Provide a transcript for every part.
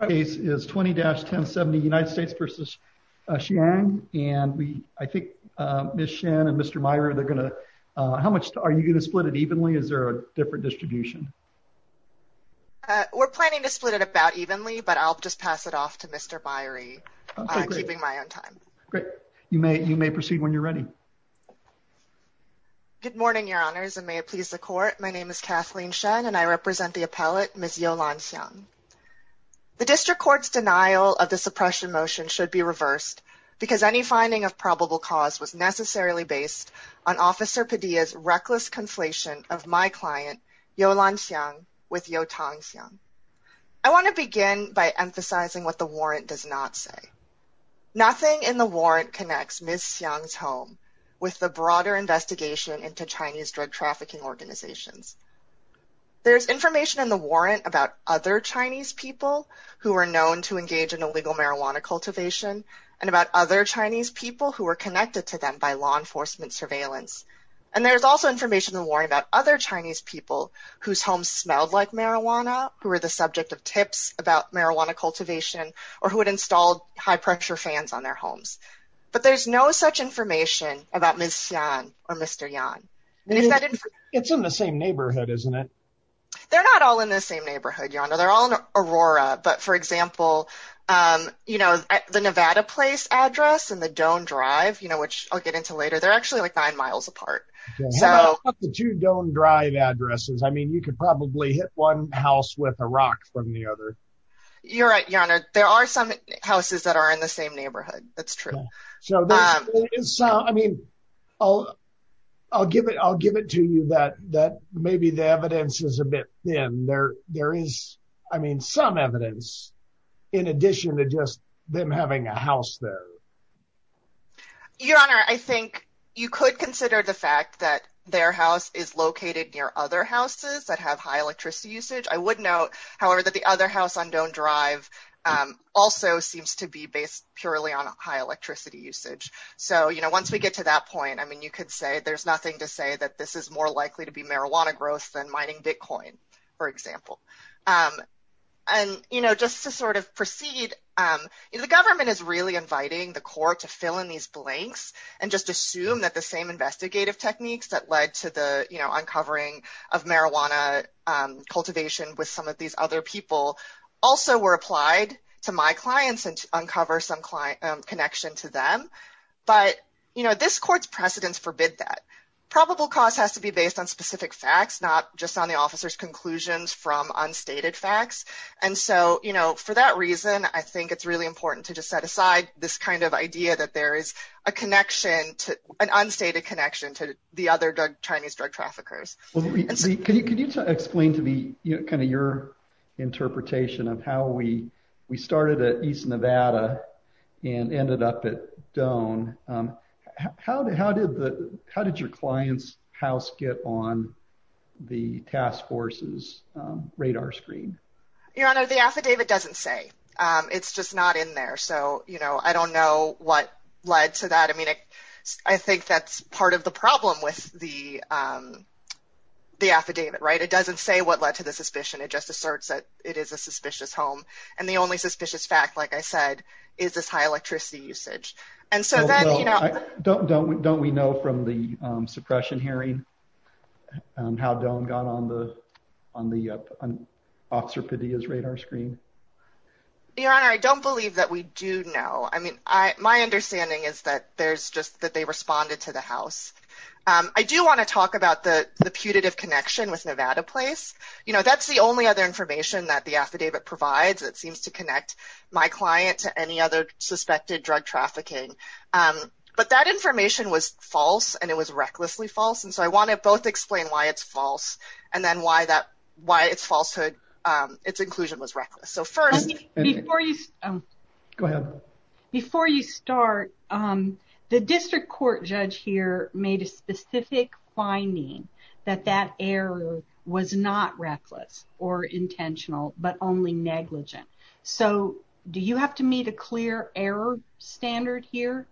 The case is 20-1070 United States v. Xiang, and I think Ms. Shen and Mr. Meyrie, how much are you going to split it evenly? Is there a different distribution? We're planning to split it about evenly, but I'll just pass it off to Mr. Meyrie, keeping my own time. Great. You may proceed when you're ready. Good morning, Your Honors, and may it please the Court. My name is Kathleen Shen, and I represent the appellate, Ms. Yolan Xiang. The District Court's denial of the suppression motion should be reversed, because any finding of probable cause was necessarily based on Officer Padilla's reckless conflation of my client, Yolan Xiang, with Youtang Xiang. I want to begin by emphasizing what the warrant does not say. Nothing in the warrant connects Ms. Xiang's home with the broader investigation into Chinese drug trafficking organizations. There's information in the warrant about other Chinese people who are known to engage in illegal marijuana cultivation, and about other Chinese people who are connected to them by law enforcement surveillance. And there's also information in the warrant about other Chinese people whose homes smelled like marijuana, who were the subject of tips about marijuana cultivation, or who had installed high-pressure fans on their homes. But there's no such information about Ms. Xiang or Mr. Yang. It's in the same neighborhood, isn't it? They're not all in the same neighborhood, Your Honor. They're all in Aurora. But, for example, you know, the Nevada Place address and the Doan Drive, you know, which I'll get into later, they're actually like nine miles apart. How about the two Doan Drive addresses? I mean, you could probably hit one house with a rock from the other. You're right, Your Honor. There are some houses that are in the same neighborhood. That's true. So there is some, I mean, I'll give it to you that maybe the evidence is a bit thin. There is, I mean, some evidence in addition to just them having a house there. Your Honor, I think you could consider the fact that their house is located near other houses that have high electricity usage. I would note, however, that the other house on Doan Drive also seems to be based purely on high electricity usage. So, you know, once we get to that point, I mean, you could say there's nothing to say that this is more likely to be marijuana growth than mining Bitcoin, for example. And you know, just to sort of proceed, the government is really inviting the court to fill in these blanks and just assume that the same investigative techniques that led to the uncovering of marijuana cultivation with some of these other people also were applied to my clients and uncover some connection to them. But, you know, this court's precedents forbid that. Probable cause has to be based on specific facts, not just on the officer's conclusions from unstated facts. And so, you know, for that reason, I think it's really important to just set aside this kind of idea that there is a connection to an unstated connection to the other Chinese drug traffickers. Well, can you explain to me kind of your interpretation of how we we started at East Nevada and ended up at Doan? How did how did the how did your client's house get on the task force's radar screen? Your Honor, the affidavit doesn't say it's just not in there. So, you know, I don't know what led to that. I mean, I think that's part of the problem with the the affidavit. Right. It doesn't say what led to the suspicion. It just asserts that it is a suspicious home. And the only suspicious fact, like I said, is this high electricity usage. And so, you know, don't don't don't we know from the suppression hearing how Don got on the on the officer's radar screen? Your Honor, I don't believe that we do know. I mean, my understanding is that there's just that they responded to the house. I do want to talk about the putative connection with Nevada Place. You know, that's the only other information that the affidavit provides. It seems to connect my client to any other suspected drug trafficking. But that information was false and it was recklessly false. And so I want to both explain why it's false and then why that why it's falsehood. Its inclusion was reckless. So first, before you go ahead, before you start, the district court judge here made a specific finding that that error was not reckless or intentional, but only negligent. So do you have to meet a clear error standard here?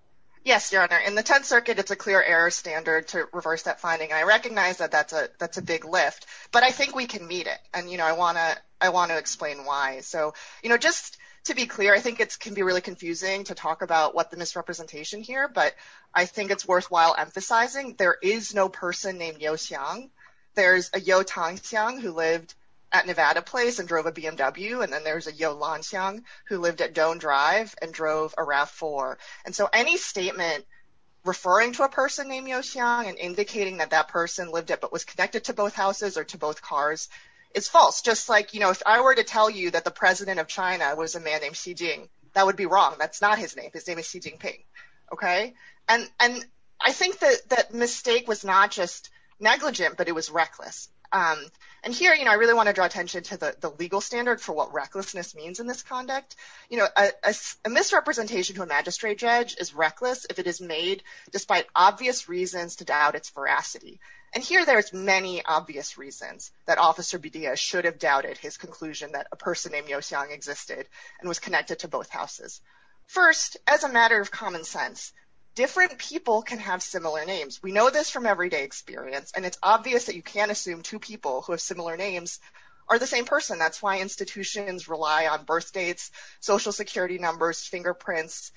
Yes, Your Honor. In the 10th Circuit, it's a clear error standard to reverse that finding. I recognize that that's a that's a big lift, but I think we can meet it. And, you know, I want to I want to explain why. And so, you know, just to be clear, I think it can be really confusing to talk about what the misrepresentation here. But I think it's worthwhile emphasizing there is no person named Yeo Xiang. There's a Yeo Tang Xiang who lived at Nevada Place and drove a BMW. And then there's a Yeo Lan Xiang who lived at Doan Drive and drove a RAV4. And so any statement referring to a person named Yeo Xiang and indicating that that person lived at but was connected to both houses or to both cars is false. Just like, you know, if I were to tell you that the president of China was a man named Xi Jinping, that would be wrong. That's not his name. His name is Xi Jinping. OK, and and I think that that mistake was not just negligent, but it was reckless. And here, you know, I really want to draw attention to the legal standard for what recklessness means in this conduct. You know, a misrepresentation to a magistrate judge is reckless if it is made despite obvious reasons to doubt its veracity. And here there's many obvious reasons that Officer Bidia should have doubted his conclusion that a person named Yeo Xiang existed and was connected to both houses. First, as a matter of common sense, different people can have similar names. We know this from everyday experience. And it's obvious that you can't assume two people who have similar names are the same person. That's why institutions rely on birthdates, social security numbers, fingerprints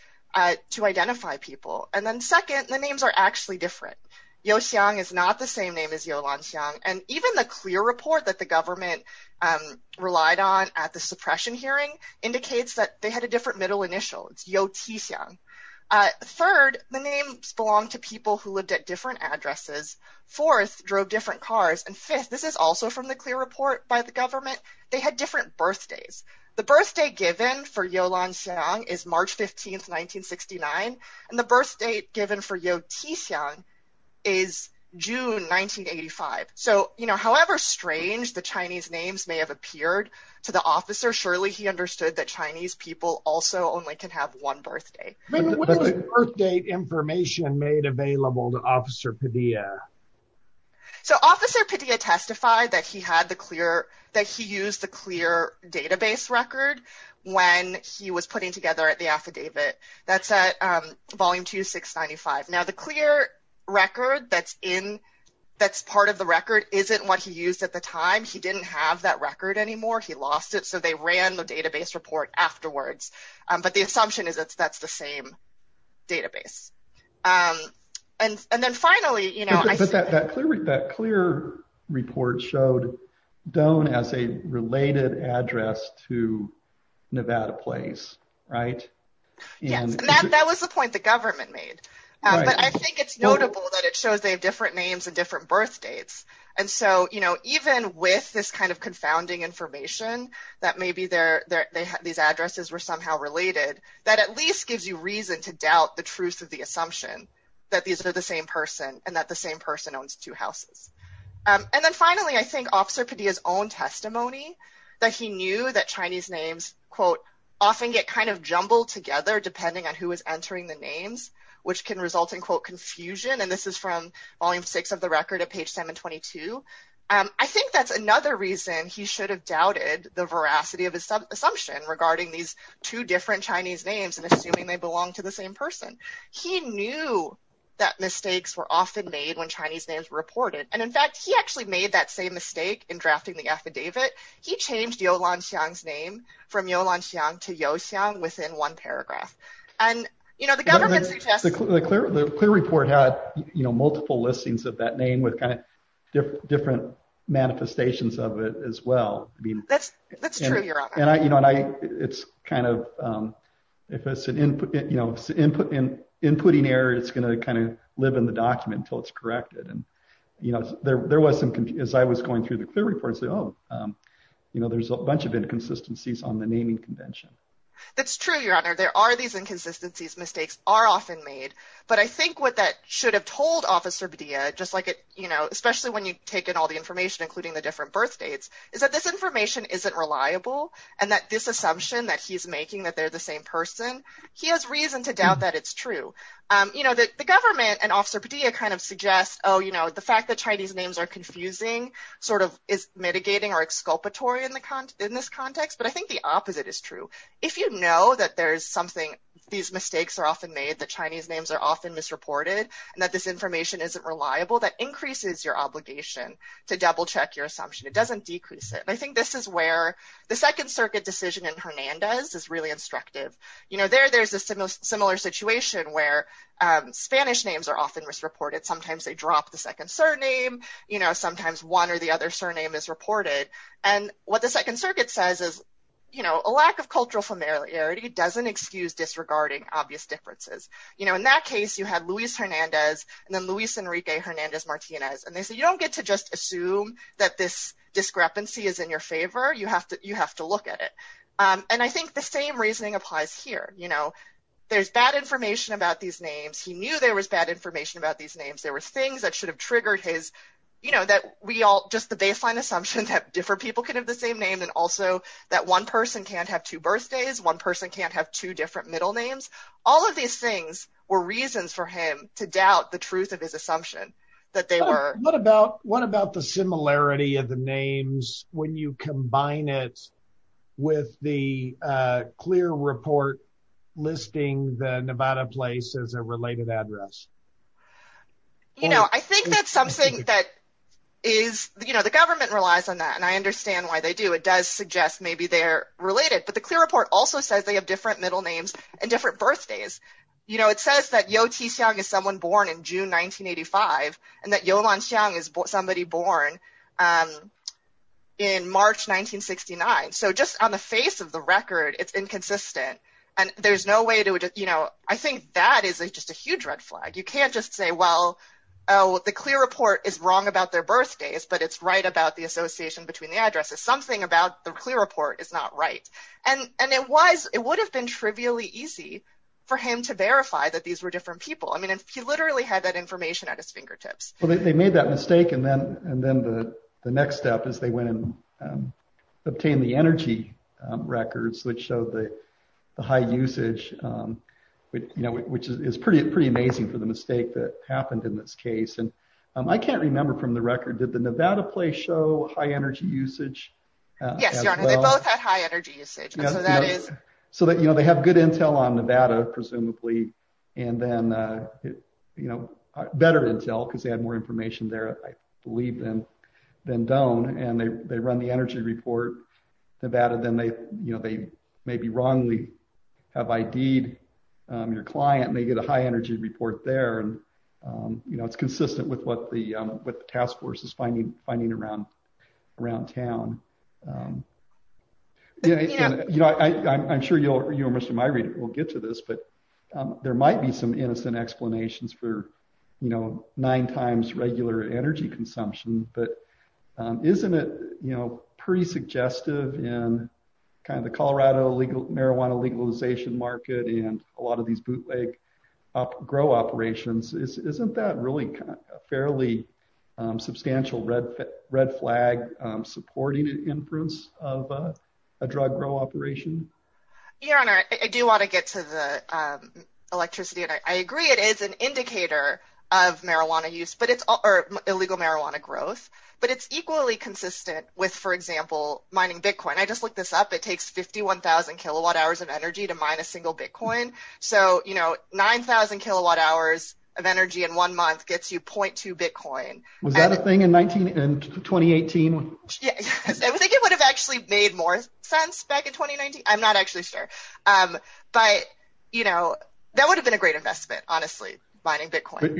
to identify people. And then second, the names are actually different. Yeo Xiang is not the same name as Yeo Lan Xiang. And even the clear report that the government relied on at the suppression hearing indicates that they had a different middle initial. It's Yeo Ti Xiang. Third, the names belong to people who lived at different addresses. Fourth, drove different cars. And fifth, this is also from the clear report by the government. They had different birthdays. The birthday given for Yeo Lan Xiang is March 15th, 1969. And the birth date given for Yeo Ti Xiang is June 1985. So, you know, however strange the Chinese names may have appeared to the officer, surely he understood that Chinese people also only can have one birthday. What is the birthdate information made available to Officer Padilla? So Officer Padilla testified that he had the clear, that he used the clear database record when he was putting together the affidavit. That's at volume 2695. Now, the clear record that's in, that's part of the record, isn't what he used at the time. He didn't have that record anymore. He lost it. So they ran the database report afterwards. But the assumption is that that's the same database. And then finally, you know... But that clear report showed Doan as a related address to Nevada Place, right? Yes, and that was the point the government made. But I think it's notable that it shows they have different names and different birthdates. And so, you know, even with this kind of confounding information that maybe these addresses were somehow related, that at least gives you reason to doubt the truth of the assumption that these are the same person and that the same person owns two houses. And then finally, I think Officer Padilla's own testimony that he knew that Chinese names, quote, often get kind of jumbled together depending on who is entering the names, which can result in, quote, confusion. And this is from volume six of the record at page 722. I think that's another reason he should have doubted the veracity of his assumption regarding these two different Chinese names and assuming they belong to the same person. He knew that mistakes were often made when Chinese names were reported. And in fact, he actually made that same mistake in drafting the affidavit. He changed Yolansiang's name from Yolansiang to Youxiang within one paragraph. And, you know, the government suggests... The clear report had, you know, multiple listings of that name with kind of different manifestations of it as well. That's true, Your Honor. And I, you know, and I, it's kind of, if it's an input, you know, inputting error, it's going to kind of live in the document until it's corrected. And, you know, there was some, as I was going through the clear reports, oh, you know, there's a bunch of inconsistencies on the naming convention. That's true, Your Honor. There are these inconsistencies. Mistakes are often made. But I think what that should have told Officer Padilla, just like it, you know, especially when you take in all the information, including the different birth dates, is that this information isn't reliable. And that this assumption that he's making that they're the same person, he has reason to doubt that it's true. You know, the government and Officer Padilla kind of suggest, oh, you know, the fact that Chinese names are confusing, sort of is mitigating or exculpatory in this context. But I think the opposite is true. If you know that there's something, these mistakes are often made, that Chinese names are often misreported, and that this information isn't reliable, that increases your obligation to double check your assumption. It doesn't decrease it. And I think this is where the Second Circuit decision in Hernandez is really instructive. You know, there's a similar situation where Spanish names are often misreported. Sometimes they drop the second surname. You know, sometimes one or the other surname is reported. And what the Second Circuit says is, you know, a lack of cultural familiarity doesn't excuse disregarding obvious differences. You know, in that case, you had Luis Hernandez and then Luis Enrique Hernandez Martinez. And they say, you don't get to just assume that this discrepancy is in your favor. You have to you have to look at it. And I think the same reasoning applies here. You know, there's bad information about these names. He knew there was bad information about these names. There were things that should have triggered his, you know, that we all just the baseline assumption that different people can have the same name, and also that one person can't have two birthdays. One person can't have two different middle names. All of these things were reasons for him to doubt the truth of his assumption that they were. But what about the similarity of the names when you combine it with the clear report listing the Nevada place as a related address? You know, I think that's something that is, you know, the government relies on that. And I understand why they do. It does suggest maybe they're related. But the clear report also says they have different middle names and different birthdays. You know, it says that Yotis Young is someone born in June 1985, and that Yolanda Young is somebody born in March 1969. So just on the face of the record, it's inconsistent. And there's no way to, you know, I think that is just a huge red flag. You can't just say, well, the clear report is wrong about their birthdays, but it's right about the association between the addresses. Something about the clear report is not right. And it would have been trivially easy for him to verify that these were different people. I mean, he literally had that information at his fingertips. Well, they made that mistake. And then the next step is they went and obtained the energy records, which showed the high usage, you know, which is pretty amazing for the mistake that happened in this case. And I can't remember from the record, did the Nevada play show high energy usage? Yes, Your Honor, they both had high energy usage. And so that is... So that, you know, they have good intel on Nevada, presumably. And then, you know, better intel, because they had more information there, I believe, than don't. And they run the energy report. Nevada, then they, you know, they maybe wrongly have ID'd your client, and they get a high energy report there. And, you know, it's consistent with what the task force is finding around town. You know, I'm sure you and Mr. Myre will get to this, but there might be some innocent explanations for, you know, nine times regular energy consumption. But isn't it, you know, pretty suggestive in kind of the Colorado illegal marijuana legalization market and a lot of these bootleg grow operations? Isn't that really a fairly substantial red flag, supporting an inference of a drug grow operation? Your Honor, I do want to get to the electricity. And I agree, it is an indicator of marijuana use, or illegal marijuana growth. But it's equally consistent with, for example, mining Bitcoin. I just looked this up. It takes 51,000 kilowatt hours of energy to mine a single Bitcoin. So, you know, 9,000 kilowatt hours of energy in one month gets you 0.2 Bitcoin. Was that a thing in 2018? I think it would have actually made more sense back in 2019. I'm not actually sure. But, you know, that would have been a great investment, honestly, mining Bitcoin.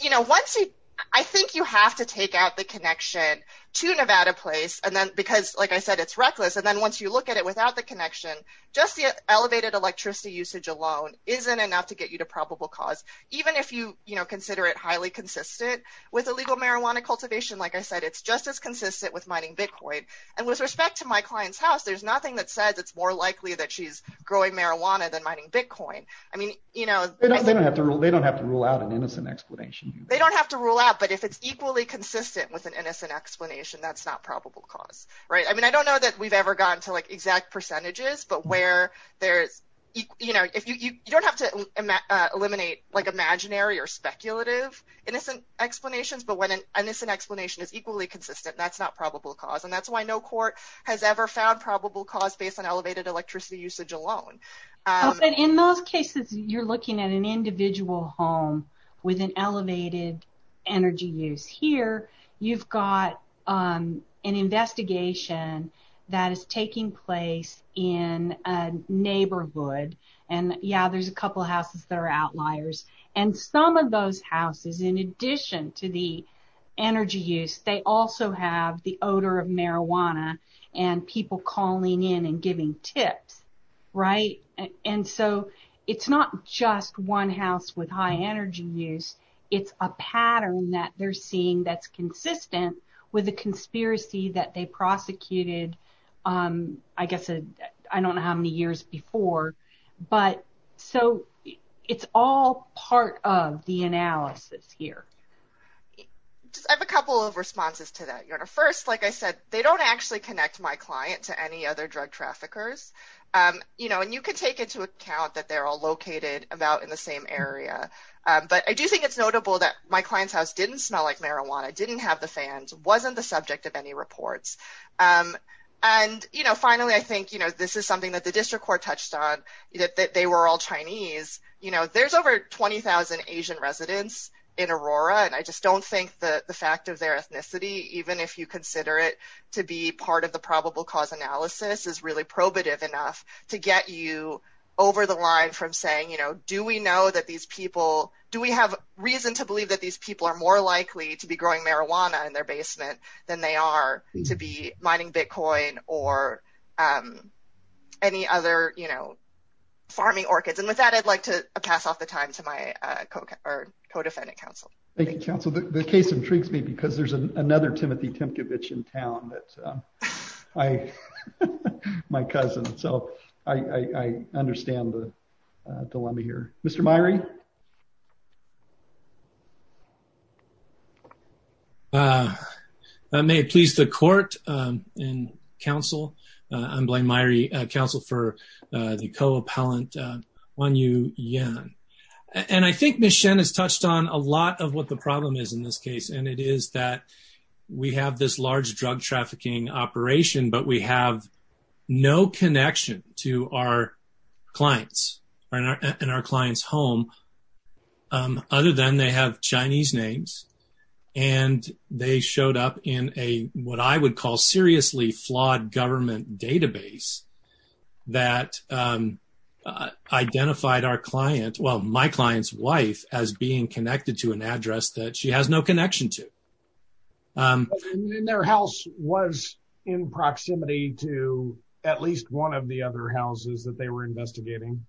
You know, once you... I think you have to take out the connection to Nevada Place. And then because, like I said, it's reckless. And then once you look at it without the connection, just the elevated electricity usage alone isn't enough to get you to probable cause. Even if you, you know, consider it highly consistent with illegal marijuana cultivation. Like I said, it's just as consistent with mining Bitcoin. And with respect to my client's house, there's nothing that says it's more likely that she's growing marijuana than mining Bitcoin. I mean, you know... They don't have to rule out an innocent explanation. They don't have to rule out. But if it's equally consistent with an innocent explanation, that's not probable cause, right? I mean, I don't know that we've ever gotten to like exact percentages, but where there's... You know, you don't have to eliminate like imaginary or speculative innocent explanations. But when an innocent explanation is equally consistent, that's not probable cause. And that's why no court has ever found probable cause based on elevated electricity usage alone. In those cases, you're looking at an individual home with an elevated energy use. Here, you've got an investigation that is taking place in a neighborhood. And yeah, there's a couple of houses that are outliers. And some of those houses, in addition to the energy use, they also have the odor of marijuana and people calling in and giving tips, right? And so it's not just one house with high energy use. It's a pattern that they're seeing that's consistent with a conspiracy that they prosecuted, I guess, I don't know how many years before. But so it's all part of the analysis here. Just have a couple of responses to that. First, like I said, they don't actually connect my client to any other drug traffickers. You know, and you can take into account that they're all located about in the same area. But I do think it's notable that my client's house didn't smell like marijuana, didn't have the fans, wasn't the subject of any reports. And, you know, finally, I think, you know, this is something that the district court touched on, that they were all Chinese. You know, there's over 20,000 Asian residents in Aurora. And I just don't think that the fact of their ethnicity, even if you consider it to be part of the probable cause analysis, is really probative enough to get you over the line from saying, you know, do we know that these people, do we have reason to believe that these people are more likely to be growing marijuana in their basement than they are to be mining Bitcoin or any other, you know, farming orchids. And with that, I'd like to pass off the time to my co-defendant counsel. Thank you, counsel. The case intrigues me because there's another Timothy Temkevich in town that I, my cousin, so I understand the dilemma here. Mr. Myrie? May it please the court and counsel, I'm Blaine Myrie, counsel for the co-appellant, Wanyu Yan. And I think Ms. Shen has touched on a lot of what the problem is in this case. And it is that we have this large drug trafficking operation, but we have no connection to our clients in our client's home other than they have Chinese names. And they showed up in a, what I would call, seriously flawed government database that identified our client, well, my client's wife, as being connected to an address that she has no connection to. And their house was in proximity to at least one of the other houses that they were investigating.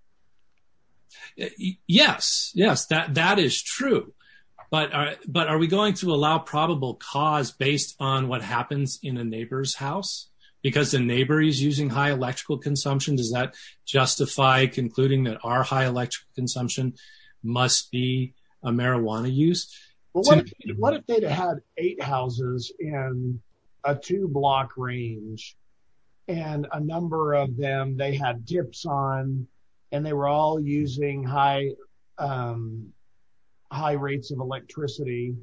Yes, yes, that is true. But are we going to allow probable cause based on what happens in a neighbor's house? Because the neighbor is using high electrical consumption, does that justify concluding that our high electrical consumption must be a marijuana use? What if they had eight houses in a two block range, and a number of them they had dips on, and they were all using high rates of electricity?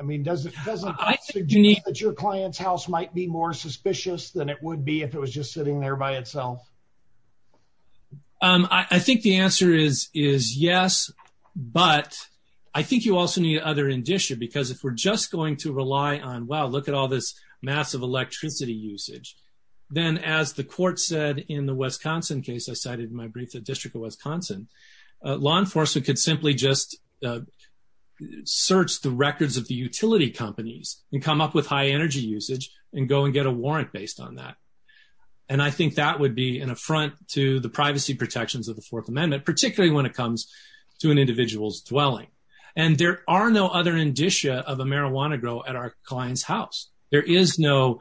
I mean, does it suggest that your client's house might be more suspicious than it would be if it was just sitting there by itself? I think the answer is yes, but I think you also need other indicia, because if we're just going to rely on, wow, look at all this massive electricity usage, then as the court said in the Wisconsin case, I cited in my brief, the District of Wisconsin, law enforcement could simply just search the records of the utility companies and come up with high energy usage and go and get a warrant based on that. And I think that would be an affront to the privacy protections of the Fourth Amendment, particularly when it comes to an individual's dwelling. And there are no other indicia of a marijuana grow at our client's house. There's no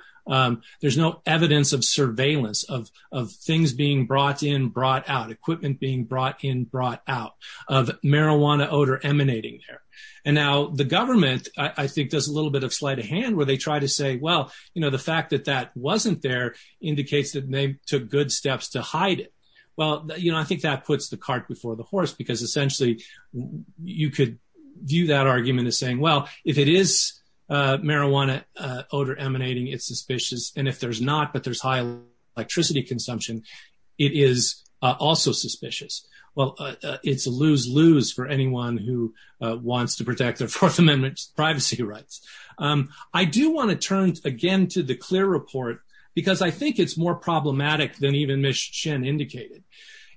evidence of surveillance of things being brought in, brought out, equipment being brought in, brought out, of marijuana odor emanating there. And now the government, I think, does a little bit of sleight of hand where they try to say, well, the fact that that wasn't there indicates that they took good steps to hide it. Well, I think that puts the cart before the horse, because essentially you could view that argument as saying, well, if it is marijuana odor emanating, it's suspicious. And if there's not, but there's high electricity consumption, it is also suspicious. Well, it's a lose-lose for anyone who wants to protect their Fourth Amendment privacy rights. I do want to turn again to the CLEAR report, because I think it's more problematic than even Ms. Chen indicated.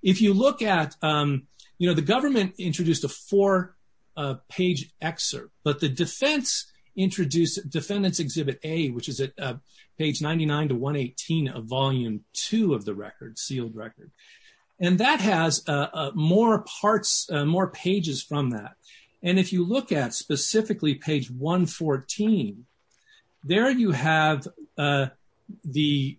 If you look at, you know, the government introduced a four-page excerpt, but the defense introduced Defendant's Exhibit A, which is at page 99 to 118 of Volume 2 of the record, sealed record. And that has more parts, more pages from that. And if you look at specifically page 114, there you have the,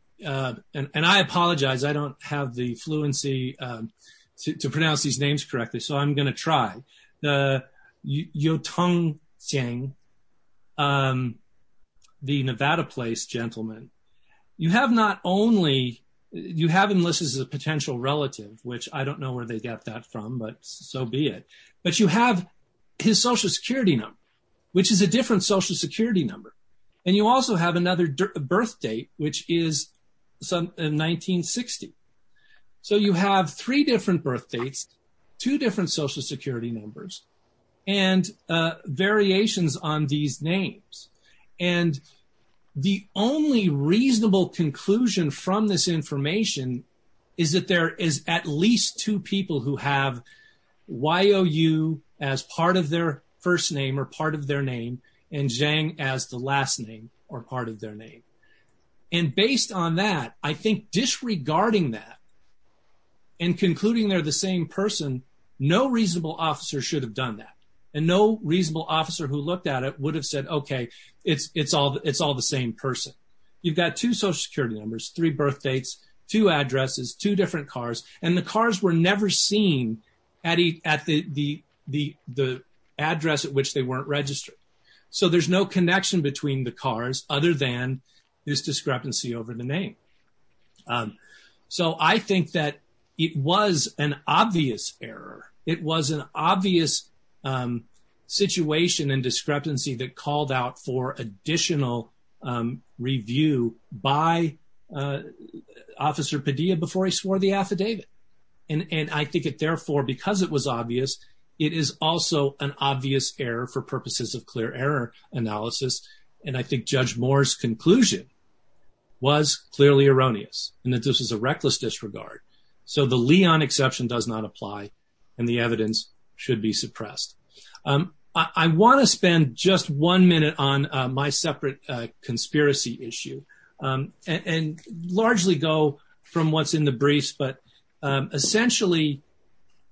and I apologize, I don't have the fluency to pronounce these names correctly, so I'm going to try. The Yiu-Tung Chiang, the Nevada place gentleman. You have not only, you have him listed as a potential relative, which I don't know where they got that from, but so be it. But you have his Social Security number, which is a different Social Security number. And you also have another birth date, which is 1960. So you have three different birth dates, two different Social Security numbers, and variations on these names. And the only reasonable conclusion from this information is that there is at least two people who have Y-O-U as part of their first name or part of their name, and Chiang as the last name or part of their name. And based on that, I think disregarding that and concluding they're the same person, no reasonable officer should have done that. And no reasonable officer who looked at it would have said, okay, it's all the same person. You've got two Social Security numbers, three birth dates, two addresses, two different cars, and the cars were never seen at the address at which they weren't registered. So there's no connection between the cars other than this discrepancy over the name. So I think that it was an obvious error. It was an obvious situation and discrepancy that called out for additional review by Officer Padilla before he swore the affidavit. And I think it therefore, because it was obvious, it is also an obvious error for purposes of clear error analysis. And I think Judge Moore's conclusion was clearly erroneous, and that this is a reckless disregard. So the Leon exception does not apply and the evidence should be suppressed. I want to spend just one minute on my separate conspiracy issue and largely go from what's in the briefs. Essentially,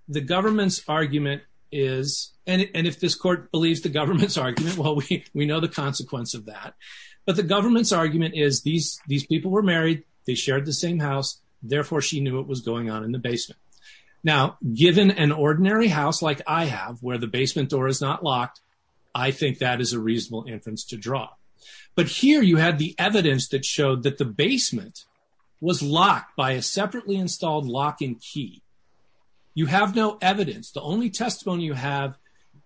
the government's argument is, and if this court believes the government's argument, well, we know the consequence of that. But the government's argument is these people were married. They shared the same house. Therefore, she knew what was going on in the basement. Now, given an ordinary house like I have where the basement door is not locked, I think that is a reasonable inference to draw. But here you had the evidence that showed that the basement was locked by a separately installed lock and key. You have no evidence. The only testimony you have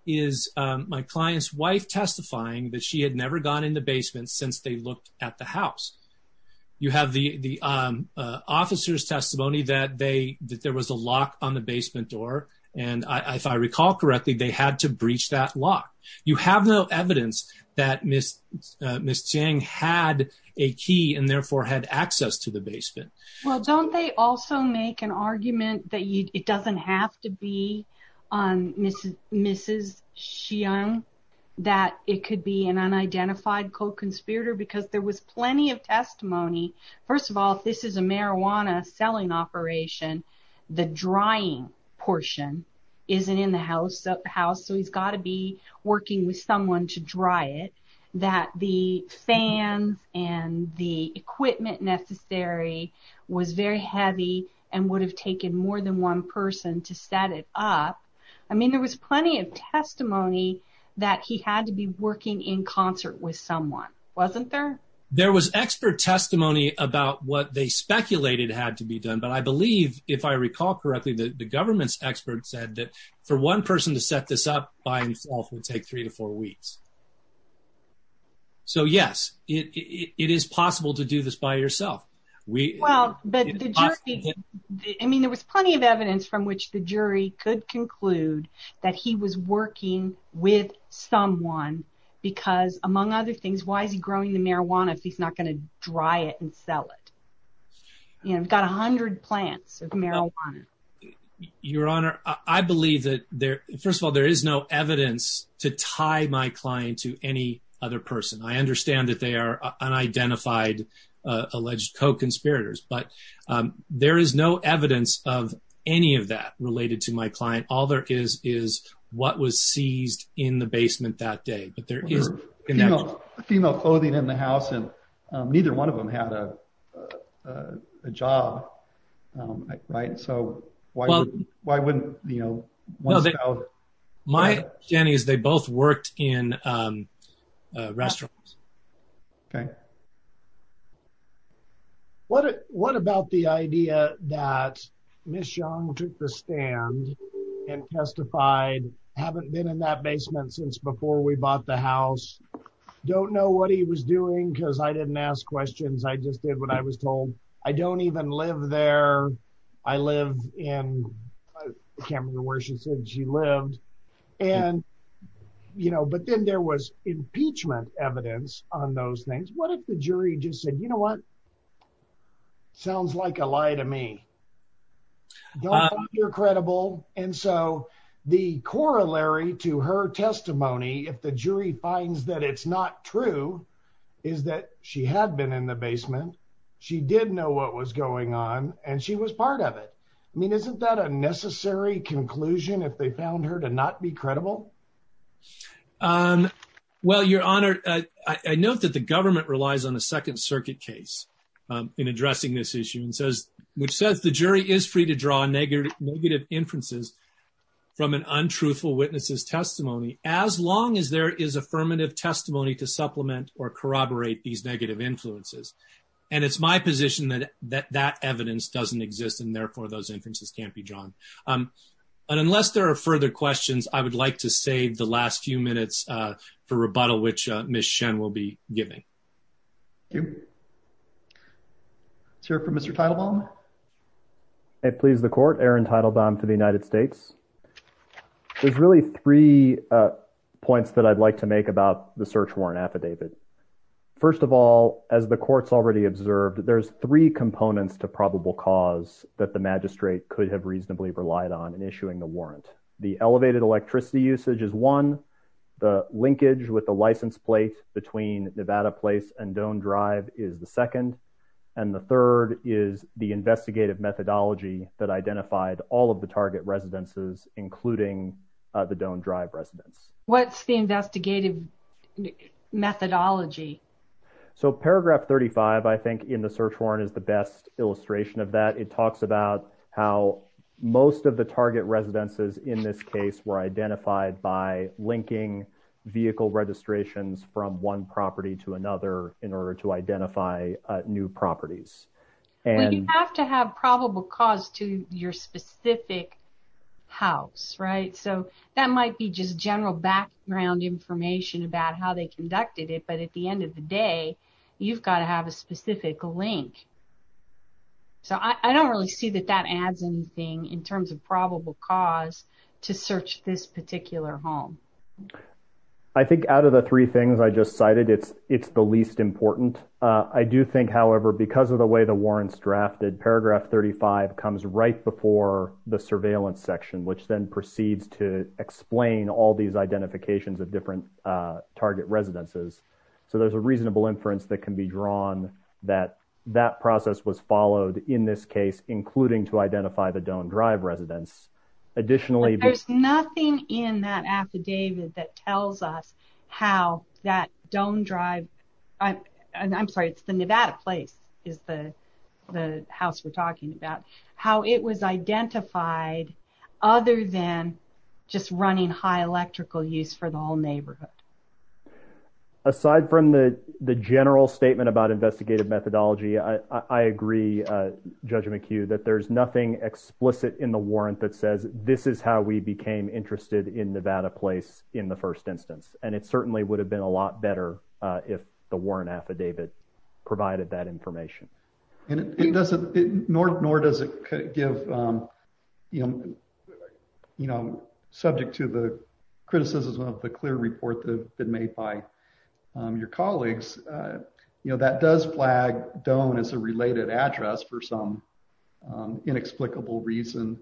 is my client's wife testifying that she had never gone in the basement since they looked at the house. You have the officer's testimony that there was a lock on the basement door. And if I recall correctly, they had to breach that lock. You have no evidence that Ms. Chiang had a key and therefore had access to the basement. Well, don't they also make an argument that it doesn't have to be on Mrs. Chiang, that it could be an unidentified co-conspirator? Because there was plenty of testimony. First of all, this is a marijuana selling operation. The drying portion isn't in the house. So he's got to be working with someone to dry it. That the fans and the equipment necessary was very heavy and would have taken more than one person to set it up. I mean, there was plenty of testimony that he had to be working in concert with someone, wasn't there? There was expert testimony about what they speculated had to be done. But I believe, if I recall correctly, the government's expert said that for one person to set this up by himself would take three to four weeks. So yes, it is possible to do this by yourself. Well, I mean, there was plenty of evidence from which the jury could conclude that he was working with someone because, among other things, why is he growing the marijuana if he's not going to dry it and sell it? You know, we've got 100 plants of marijuana. Your Honor, I believe that, first of all, there is no evidence to tie my client to any other person. I understand that they are unidentified alleged co-conspirators, but there is no evidence of any of that related to my client. All there is is what was seized in the basement that day. But there is female clothing in the house, and neither one of them had a job, right? So why wouldn't, you know, one sell... My understanding is they both worked in restaurants. Okay. What about the idea that Ms. Xiong took the stand and testified, haven't been in that basement since before we bought the house, don't know what he was doing because I didn't ask questions. I just did what I was told. I don't even live there. I live in, I can't remember where she said she lived. And, you know, but then there was impeachment evidence on those things. What if the jury just said, you know what? Sounds like a lie to me. Don't think you're credible. And so the corollary to her testimony, if the jury finds that it's not true, is that she had been in the basement. She did know what was going on. And she was part of it. I mean, isn't that a necessary conclusion if they found her to not be credible? Well, your honor, I note that the government relies on a second circuit case in addressing this issue and says, which says the jury is free to draw negative inferences from an untruthful witness's testimony, as long as there is affirmative testimony to supplement or corroborate these negative influences. And it's my position that that evidence doesn't exist, and therefore those inferences can't be drawn. But unless there are further questions, I would like to save the last few minutes for rebuttal, which Ms. Shen will be giving. Thank you. Let's hear from Mr. Teitelbaum. I please the court, Aaron Teitelbaum for the United States. There's really three points that I'd like to make about the search warrant affidavit. First of all, as the court's already observed, there's three components to probable cause that the magistrate could have reasonably relied on in issuing the warrant. The elevated electricity usage is one. The linkage with the license plate between Nevada Place and Doan Drive is the second. And the third is the investigative methodology that identified all of the target residences, including the Doan Drive residents. What's the investigative methodology? So paragraph 35, I think, in the search warrant is the best illustration of that. It talks about how most of the target residences in this case were identified by linking vehicle registrations from one property to another in order to identify new properties. And you have to have probable cause to your specific house, right? So that might be just general background information about how they conducted it. But at the end of the day, you've got to have a specific link. So I don't really see that that adds anything in terms of probable cause to search this particular home. I think out of the three things I just cited, it's the least important. I do think, however, because of the way the warrant's drafted, paragraph 35 comes right before the surveillance section, which then proceeds to explain all these identifications of different target residences. So there's a reasonable inference that can be drawn that that process was followed in this case, including to identify the Doan Drive residents. Additionally, there's nothing in that affidavit that tells us how that Doan Drive, and I'm sorry, it's the Nevada place is the house we're talking about, how it was identified other than just running high electrical use for the whole neighborhood. Aside from the general statement about investigative methodology, I agree, Judge McHugh, that there's nothing explicit in the warrant that says this is how we became interested in Nevada place in the first instance. And it certainly would have been a lot better if the warrant affidavit provided that information. And it doesn't, nor does it give, subject to the criticism of the clear report that have been made by your colleagues, that does flag Doan as a related address for some inexplicable reason.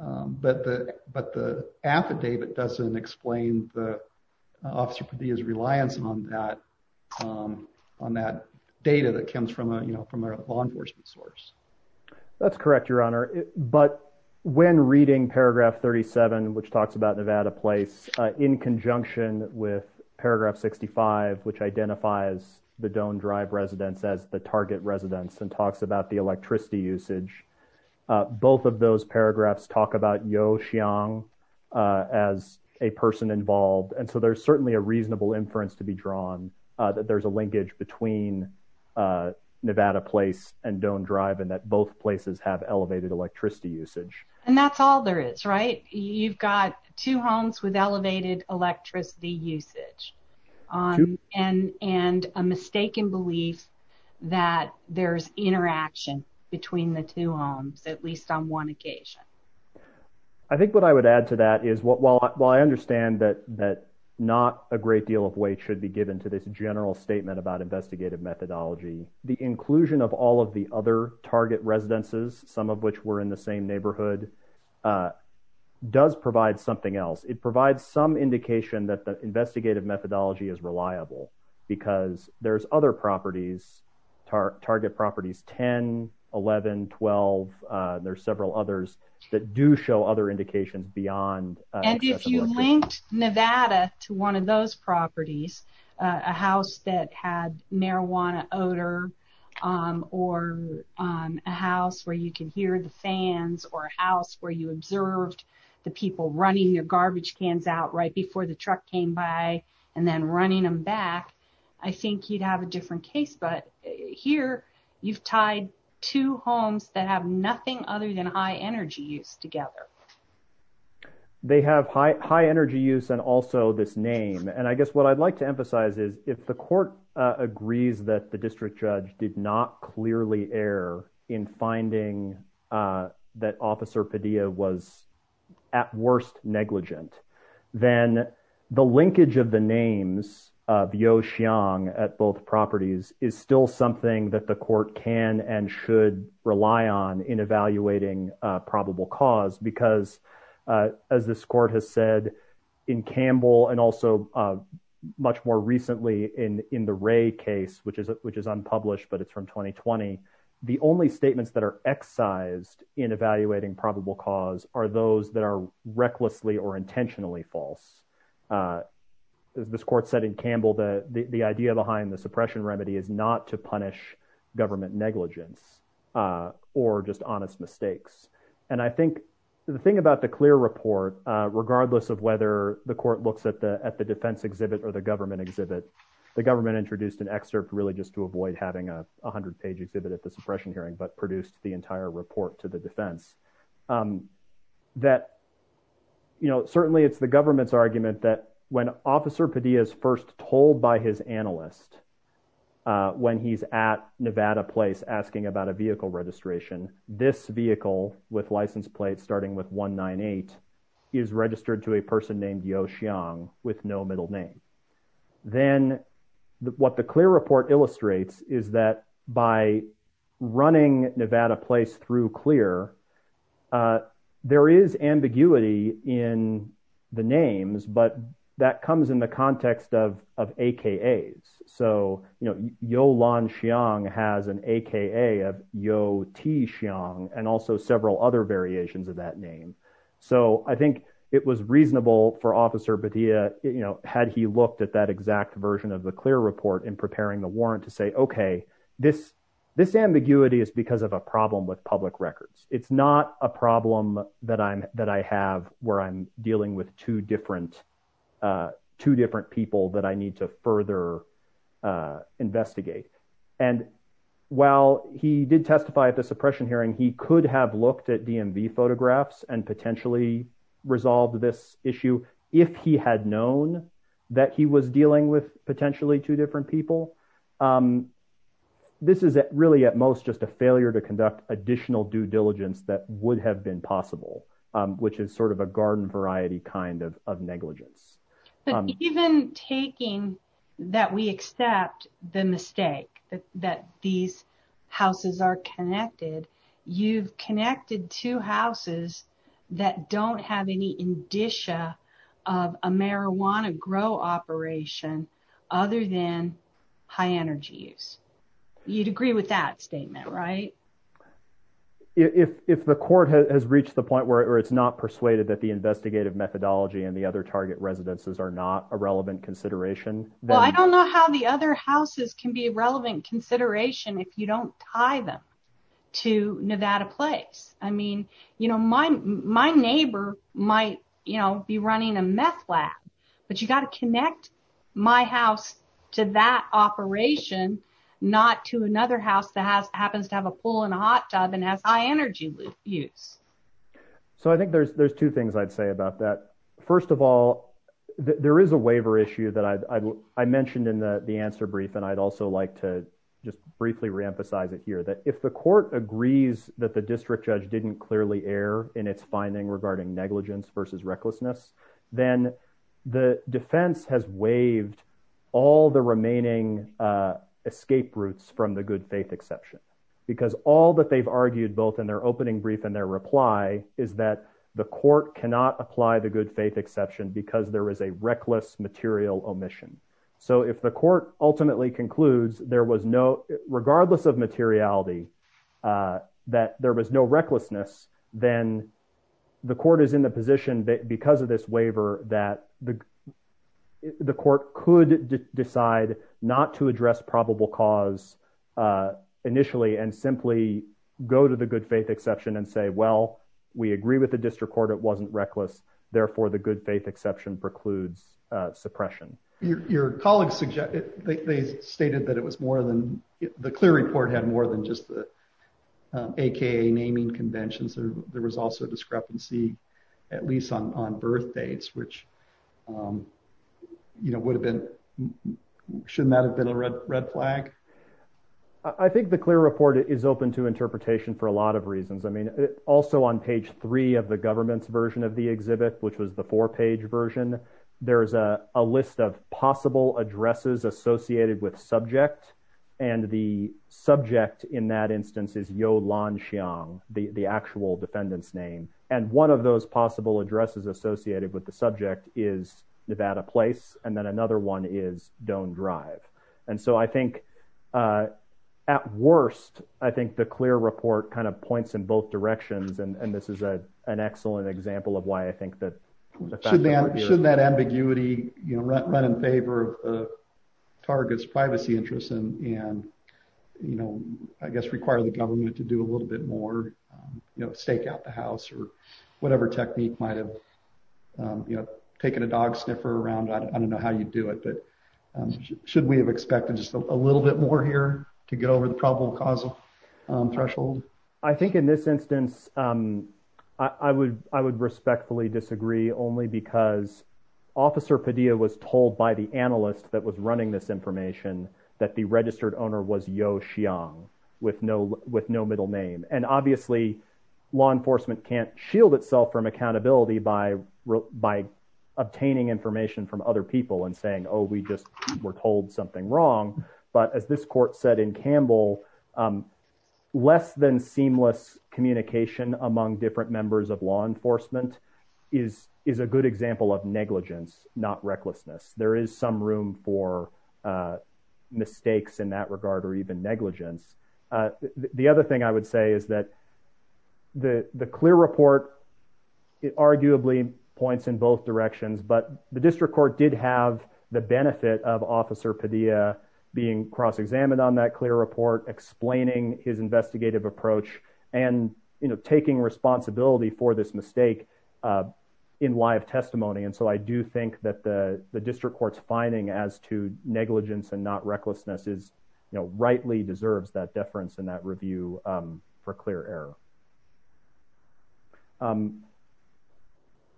But the affidavit doesn't explain the officer Padilla's reliance on that data that comes from a law enforcement source. That's correct, Your Honor. But when reading paragraph 37, which talks about Nevada place, in conjunction with paragraph 65, which identifies the Doan Drive residents as the target residents and talks about the electricity usage, both of those paragraphs talk about Yeo Xiong as a person involved. And so there's certainly a reasonable inference to be drawn that there's a linkage between Nevada place and Doan Drive and that both places have elevated electricity usage. And that's all there is, right? You've got two homes with elevated electricity usage and a mistaken belief that there's interaction between the two homes, at least on one occasion. I think what I would add to that is, while I understand that not a great deal of weight should be given to this general statement about investigative methodology, the inclusion of all of the other target residences, some of which were in the same neighborhood, does provide something else. It provides some indication that the investigative methodology is reliable because there's other properties, target properties, 10, 11, 12. There's several others that do show other indications beyond- And if you linked Nevada to one of those properties, a house that had marijuana odor or a house where you can hear the fans or a house where you observed the people running your garbage cans out right before the truck came by and then running them back, I think you'd have a different case. Here, you've tied two homes that have nothing other than high energy use together. They have high energy use and also this name. I guess what I'd like to emphasize is, if the court agrees that the district judge did not clearly err in finding that Officer Padilla was at worst negligent, then the linkage of the names of Yeo Xiong at both properties is still something that the court can and should rely on in evaluating probable cause. Because as this court has said in Campbell and also much more recently in the Ray case, which is unpublished, but it's from 2020, the only statements that are excised in evaluating probable cause are those that are recklessly or intentionally false. As this court said in Campbell, the idea behind the suppression remedy is not to punish government negligence or just honest mistakes. And I think the thing about the clear report, regardless of whether the court looks at the defense exhibit or the government exhibit, the government introduced an excerpt really just to avoid having a 100-page exhibit at the suppression hearing, but produced the entire report to the defense. That, you know, certainly it's the government's argument that when Officer Padilla is first told by his analyst when he's at Nevada Place asking about a vehicle registration, this vehicle with license plates starting with 198 is registered to a person named Yeo Xiong with no middle name. Then what the clear report illustrates is that by running Nevada Place through clear, there is ambiguity in the names, but that comes in the context of AKAs. So, you know, Yeo Lan Xiong has an AKA of Yeo T. Xiong and also several other variations of that name. So I think it was reasonable for Officer Padilla, you know, had he looked at that exact version of the clear report in preparing the warrant to say, this ambiguity is because of a problem with public records. It's not a problem that I have where I'm dealing with two different people that I need to further investigate. And while he did testify at the suppression hearing, he could have looked at DMV photographs and potentially resolved this issue if he had known that he was dealing with potentially two different people. This is really at most just a failure to conduct additional due diligence that would have been possible, which is sort of a garden variety kind of negligence. But even taking that we accept the mistake that these houses are connected, you've connected two houses that don't have any indicia of a marijuana grow operation other than high energy use. You'd agree with that statement, right? If the court has reached the point where it's not persuaded that the investigative methodology and the other target residences are not a relevant consideration. Well, I don't know how the other houses can be a relevant consideration if you don't tie them to Nevada Place. I mean, you know, my neighbor might, you know, be running a meth lab, but you got to connect my house to that operation not to another house that happens to have a pool and a hot tub and has high energy use. So I think there's two things I'd say about that. First of all, there is a waiver issue that I mentioned in the answer brief, and I'd also like to just briefly reemphasize it here that if the court agrees that the district judge didn't clearly err in its finding regarding negligence versus recklessness, then the defense has waived all the remaining escape routes from the good faith exception, because all that they've argued both in their opening brief and their reply is that the court cannot apply the good faith exception because there was a reckless material omission. So if the court ultimately concludes there was no, regardless of materiality, that there was no recklessness, then the court is in the position because of this waiver that the court could decide not to address probable cause initially and simply go to the good faith exception and say, well, we agree with the district court, it wasn't reckless. Therefore, the good faith exception precludes suppression. Your colleagues, they stated that it was more than, the clear report had more than just the AKA naming conventions. There was also a discrepancy, at least on birthdates, which would have been, shouldn't that have been a red flag? I think the clear report is open to interpretation for a lot of reasons. I mean, also on page three of the government's version of the exhibit, which was the four page version, there's a list of possible addresses associated with subject. And the subject in that instance is Yolan Xiang, the actual defendant's name. And one of those possible addresses associated with the subject is Nevada Place. And then another one is Doan Drive. And so I think at worst, I think the clear report kind of points in both directions. And this is an excellent example of why I think that- Shouldn't that ambiguity run in favor of the target's privacy interests and I guess require the government to do a little bit more stake out the house or whatever technique might've taken a dog sniffer around. I don't know how you do it, but should we have expected just a little bit more here to get over the probable causal threshold? I think in this instance, I would respectfully disagree only because Officer Padilla was told by the analyst that was running this information that the registered owner was Yolan Xiang with no middle name. And obviously law enforcement can't shield itself from accountability by obtaining information from other people and saying, oh, we just were told something wrong. But as this court said in Campbell, less than seamless communication among different members of law enforcement is a good example of negligence, not recklessness. There is some room for mistakes in that regard or even negligence. The other thing I would say is that the clear report, it arguably points in both directions, but the district court did have the benefit of Officer Padilla being cross-examined on that clear report, explaining his investigative approach and taking responsibility for this mistake in live testimony. And so I do think that the district court's finding as to negligence and not recklessness rightly deserves that deference and that review for clear error.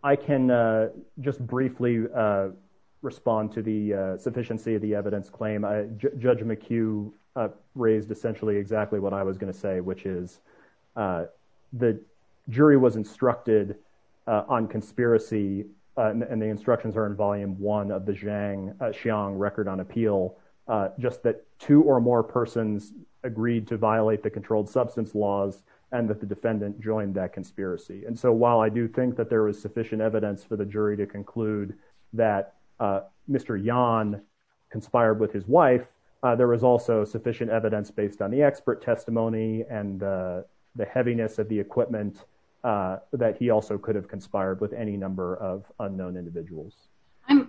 I can just briefly respond to the sufficiency of the evidence claim. Judge McHugh raised essentially exactly what I was gonna say, which is the jury was instructed on conspiracy and the instructions are in volume one of the Xiang record on appeal, just that two or more persons agreed to violate the controlled substance laws and that the defendant joined that conspiracy. And so while I do think that there was sufficient evidence for the jury to conclude that Mr. Yan conspired with his wife, there was also sufficient evidence based on the expert testimony and the heaviness of the equipment that he also could have conspired with any number of unknown individuals.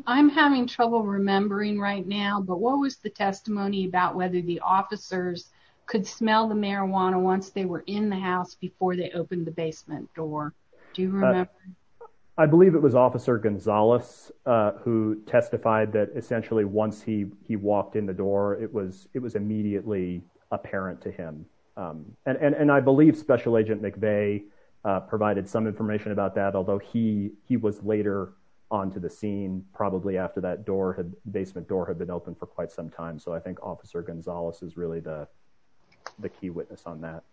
I'm having trouble remembering right now, but what was the testimony about whether the officers could smell the marijuana once they were in the house before they opened the basement door? Do you remember? I believe it was officer Gonzalez who testified that essentially once he walked in the door, it was immediately apparent to him. And I believe special agent McVeigh provided some information about that, although he was later onto the scene, probably after that basement door had been open for quite some time. So I think officer Gonzalez is really the key witness on that.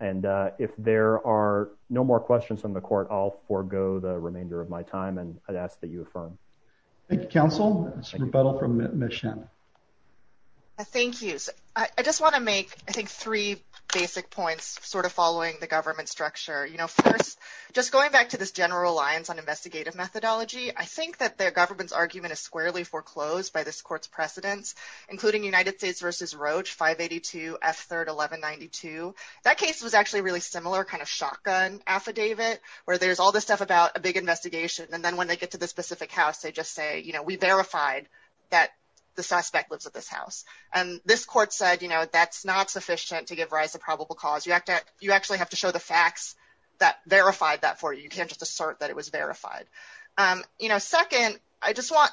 And if there are no more questions from the court, I'll forego the remainder of my time and I'd ask that you affirm. Thank you, counsel. It's rebuttal from Ms. Shen. Thank you. I just want to make, I think, three basic points sort of following the government structure. You know, first, just going back to this general lines on investigative methodology, I think that the government's argument is squarely foreclosed by this court's precedents, including United States versus Roach, 582 F3rd 1192. That case was actually really similar kind of shotgun affidavit where there's all this stuff about a big investigation. And then when they get to this specific house, they just say, you know, we verified that the suspect lives at this house. And this court said, you know, that's not sufficient to give rise to probable cause. You actually have to show the facts that verified that for you. You can't just assert that it was verified. You know, second, I just want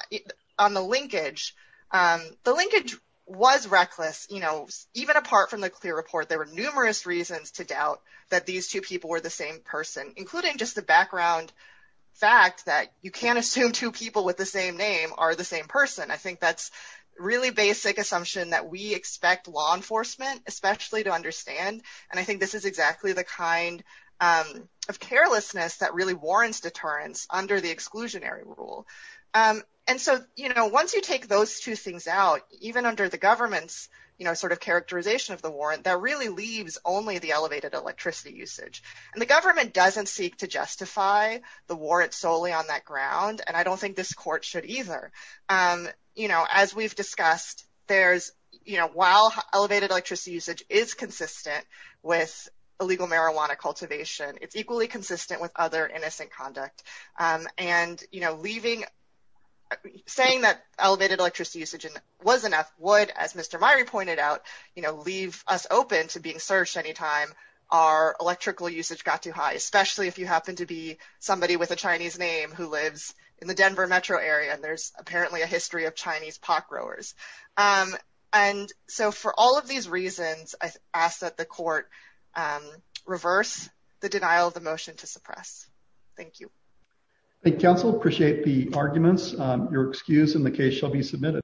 on the linkage, the linkage was reckless. You know, even apart from the clear report, there were numerous reasons to doubt that these two people were the same person, including just the background fact that you can't assume two people with the same name are the same person. I think that's really basic assumption that we expect law enforcement, especially to understand. And I think this is exactly the kind of carelessness that really warrants deterrence under the exclusionary rule. And so, you know, once you take those two things out, even under the government's, you know, sort of characterization of the warrant that really leaves only the elevated electricity usage and the government doesn't seek to justify the warrants solely on that ground. And I don't think this court should either, you know, as we've discussed, there's, you know, while elevated electricity usage is consistent with illegal marijuana cultivation, it's equally consistent with other innocent conduct and, you know, leaving, saying that elevated electricity usage was enough would, as Mr. Myrie pointed out, you know, leave us open to being searched anytime our electrical usage got too high, especially if you happen to be somebody with a Chinese name who lives in the Denver metro area. And there's apparently a history of Chinese pot growers. And so for all of these reasons, I ask that the court reverse the denial of the motion to suppress. Thank you. Thank you, counsel. Appreciate the arguments. Your excuse in the case shall be submitted.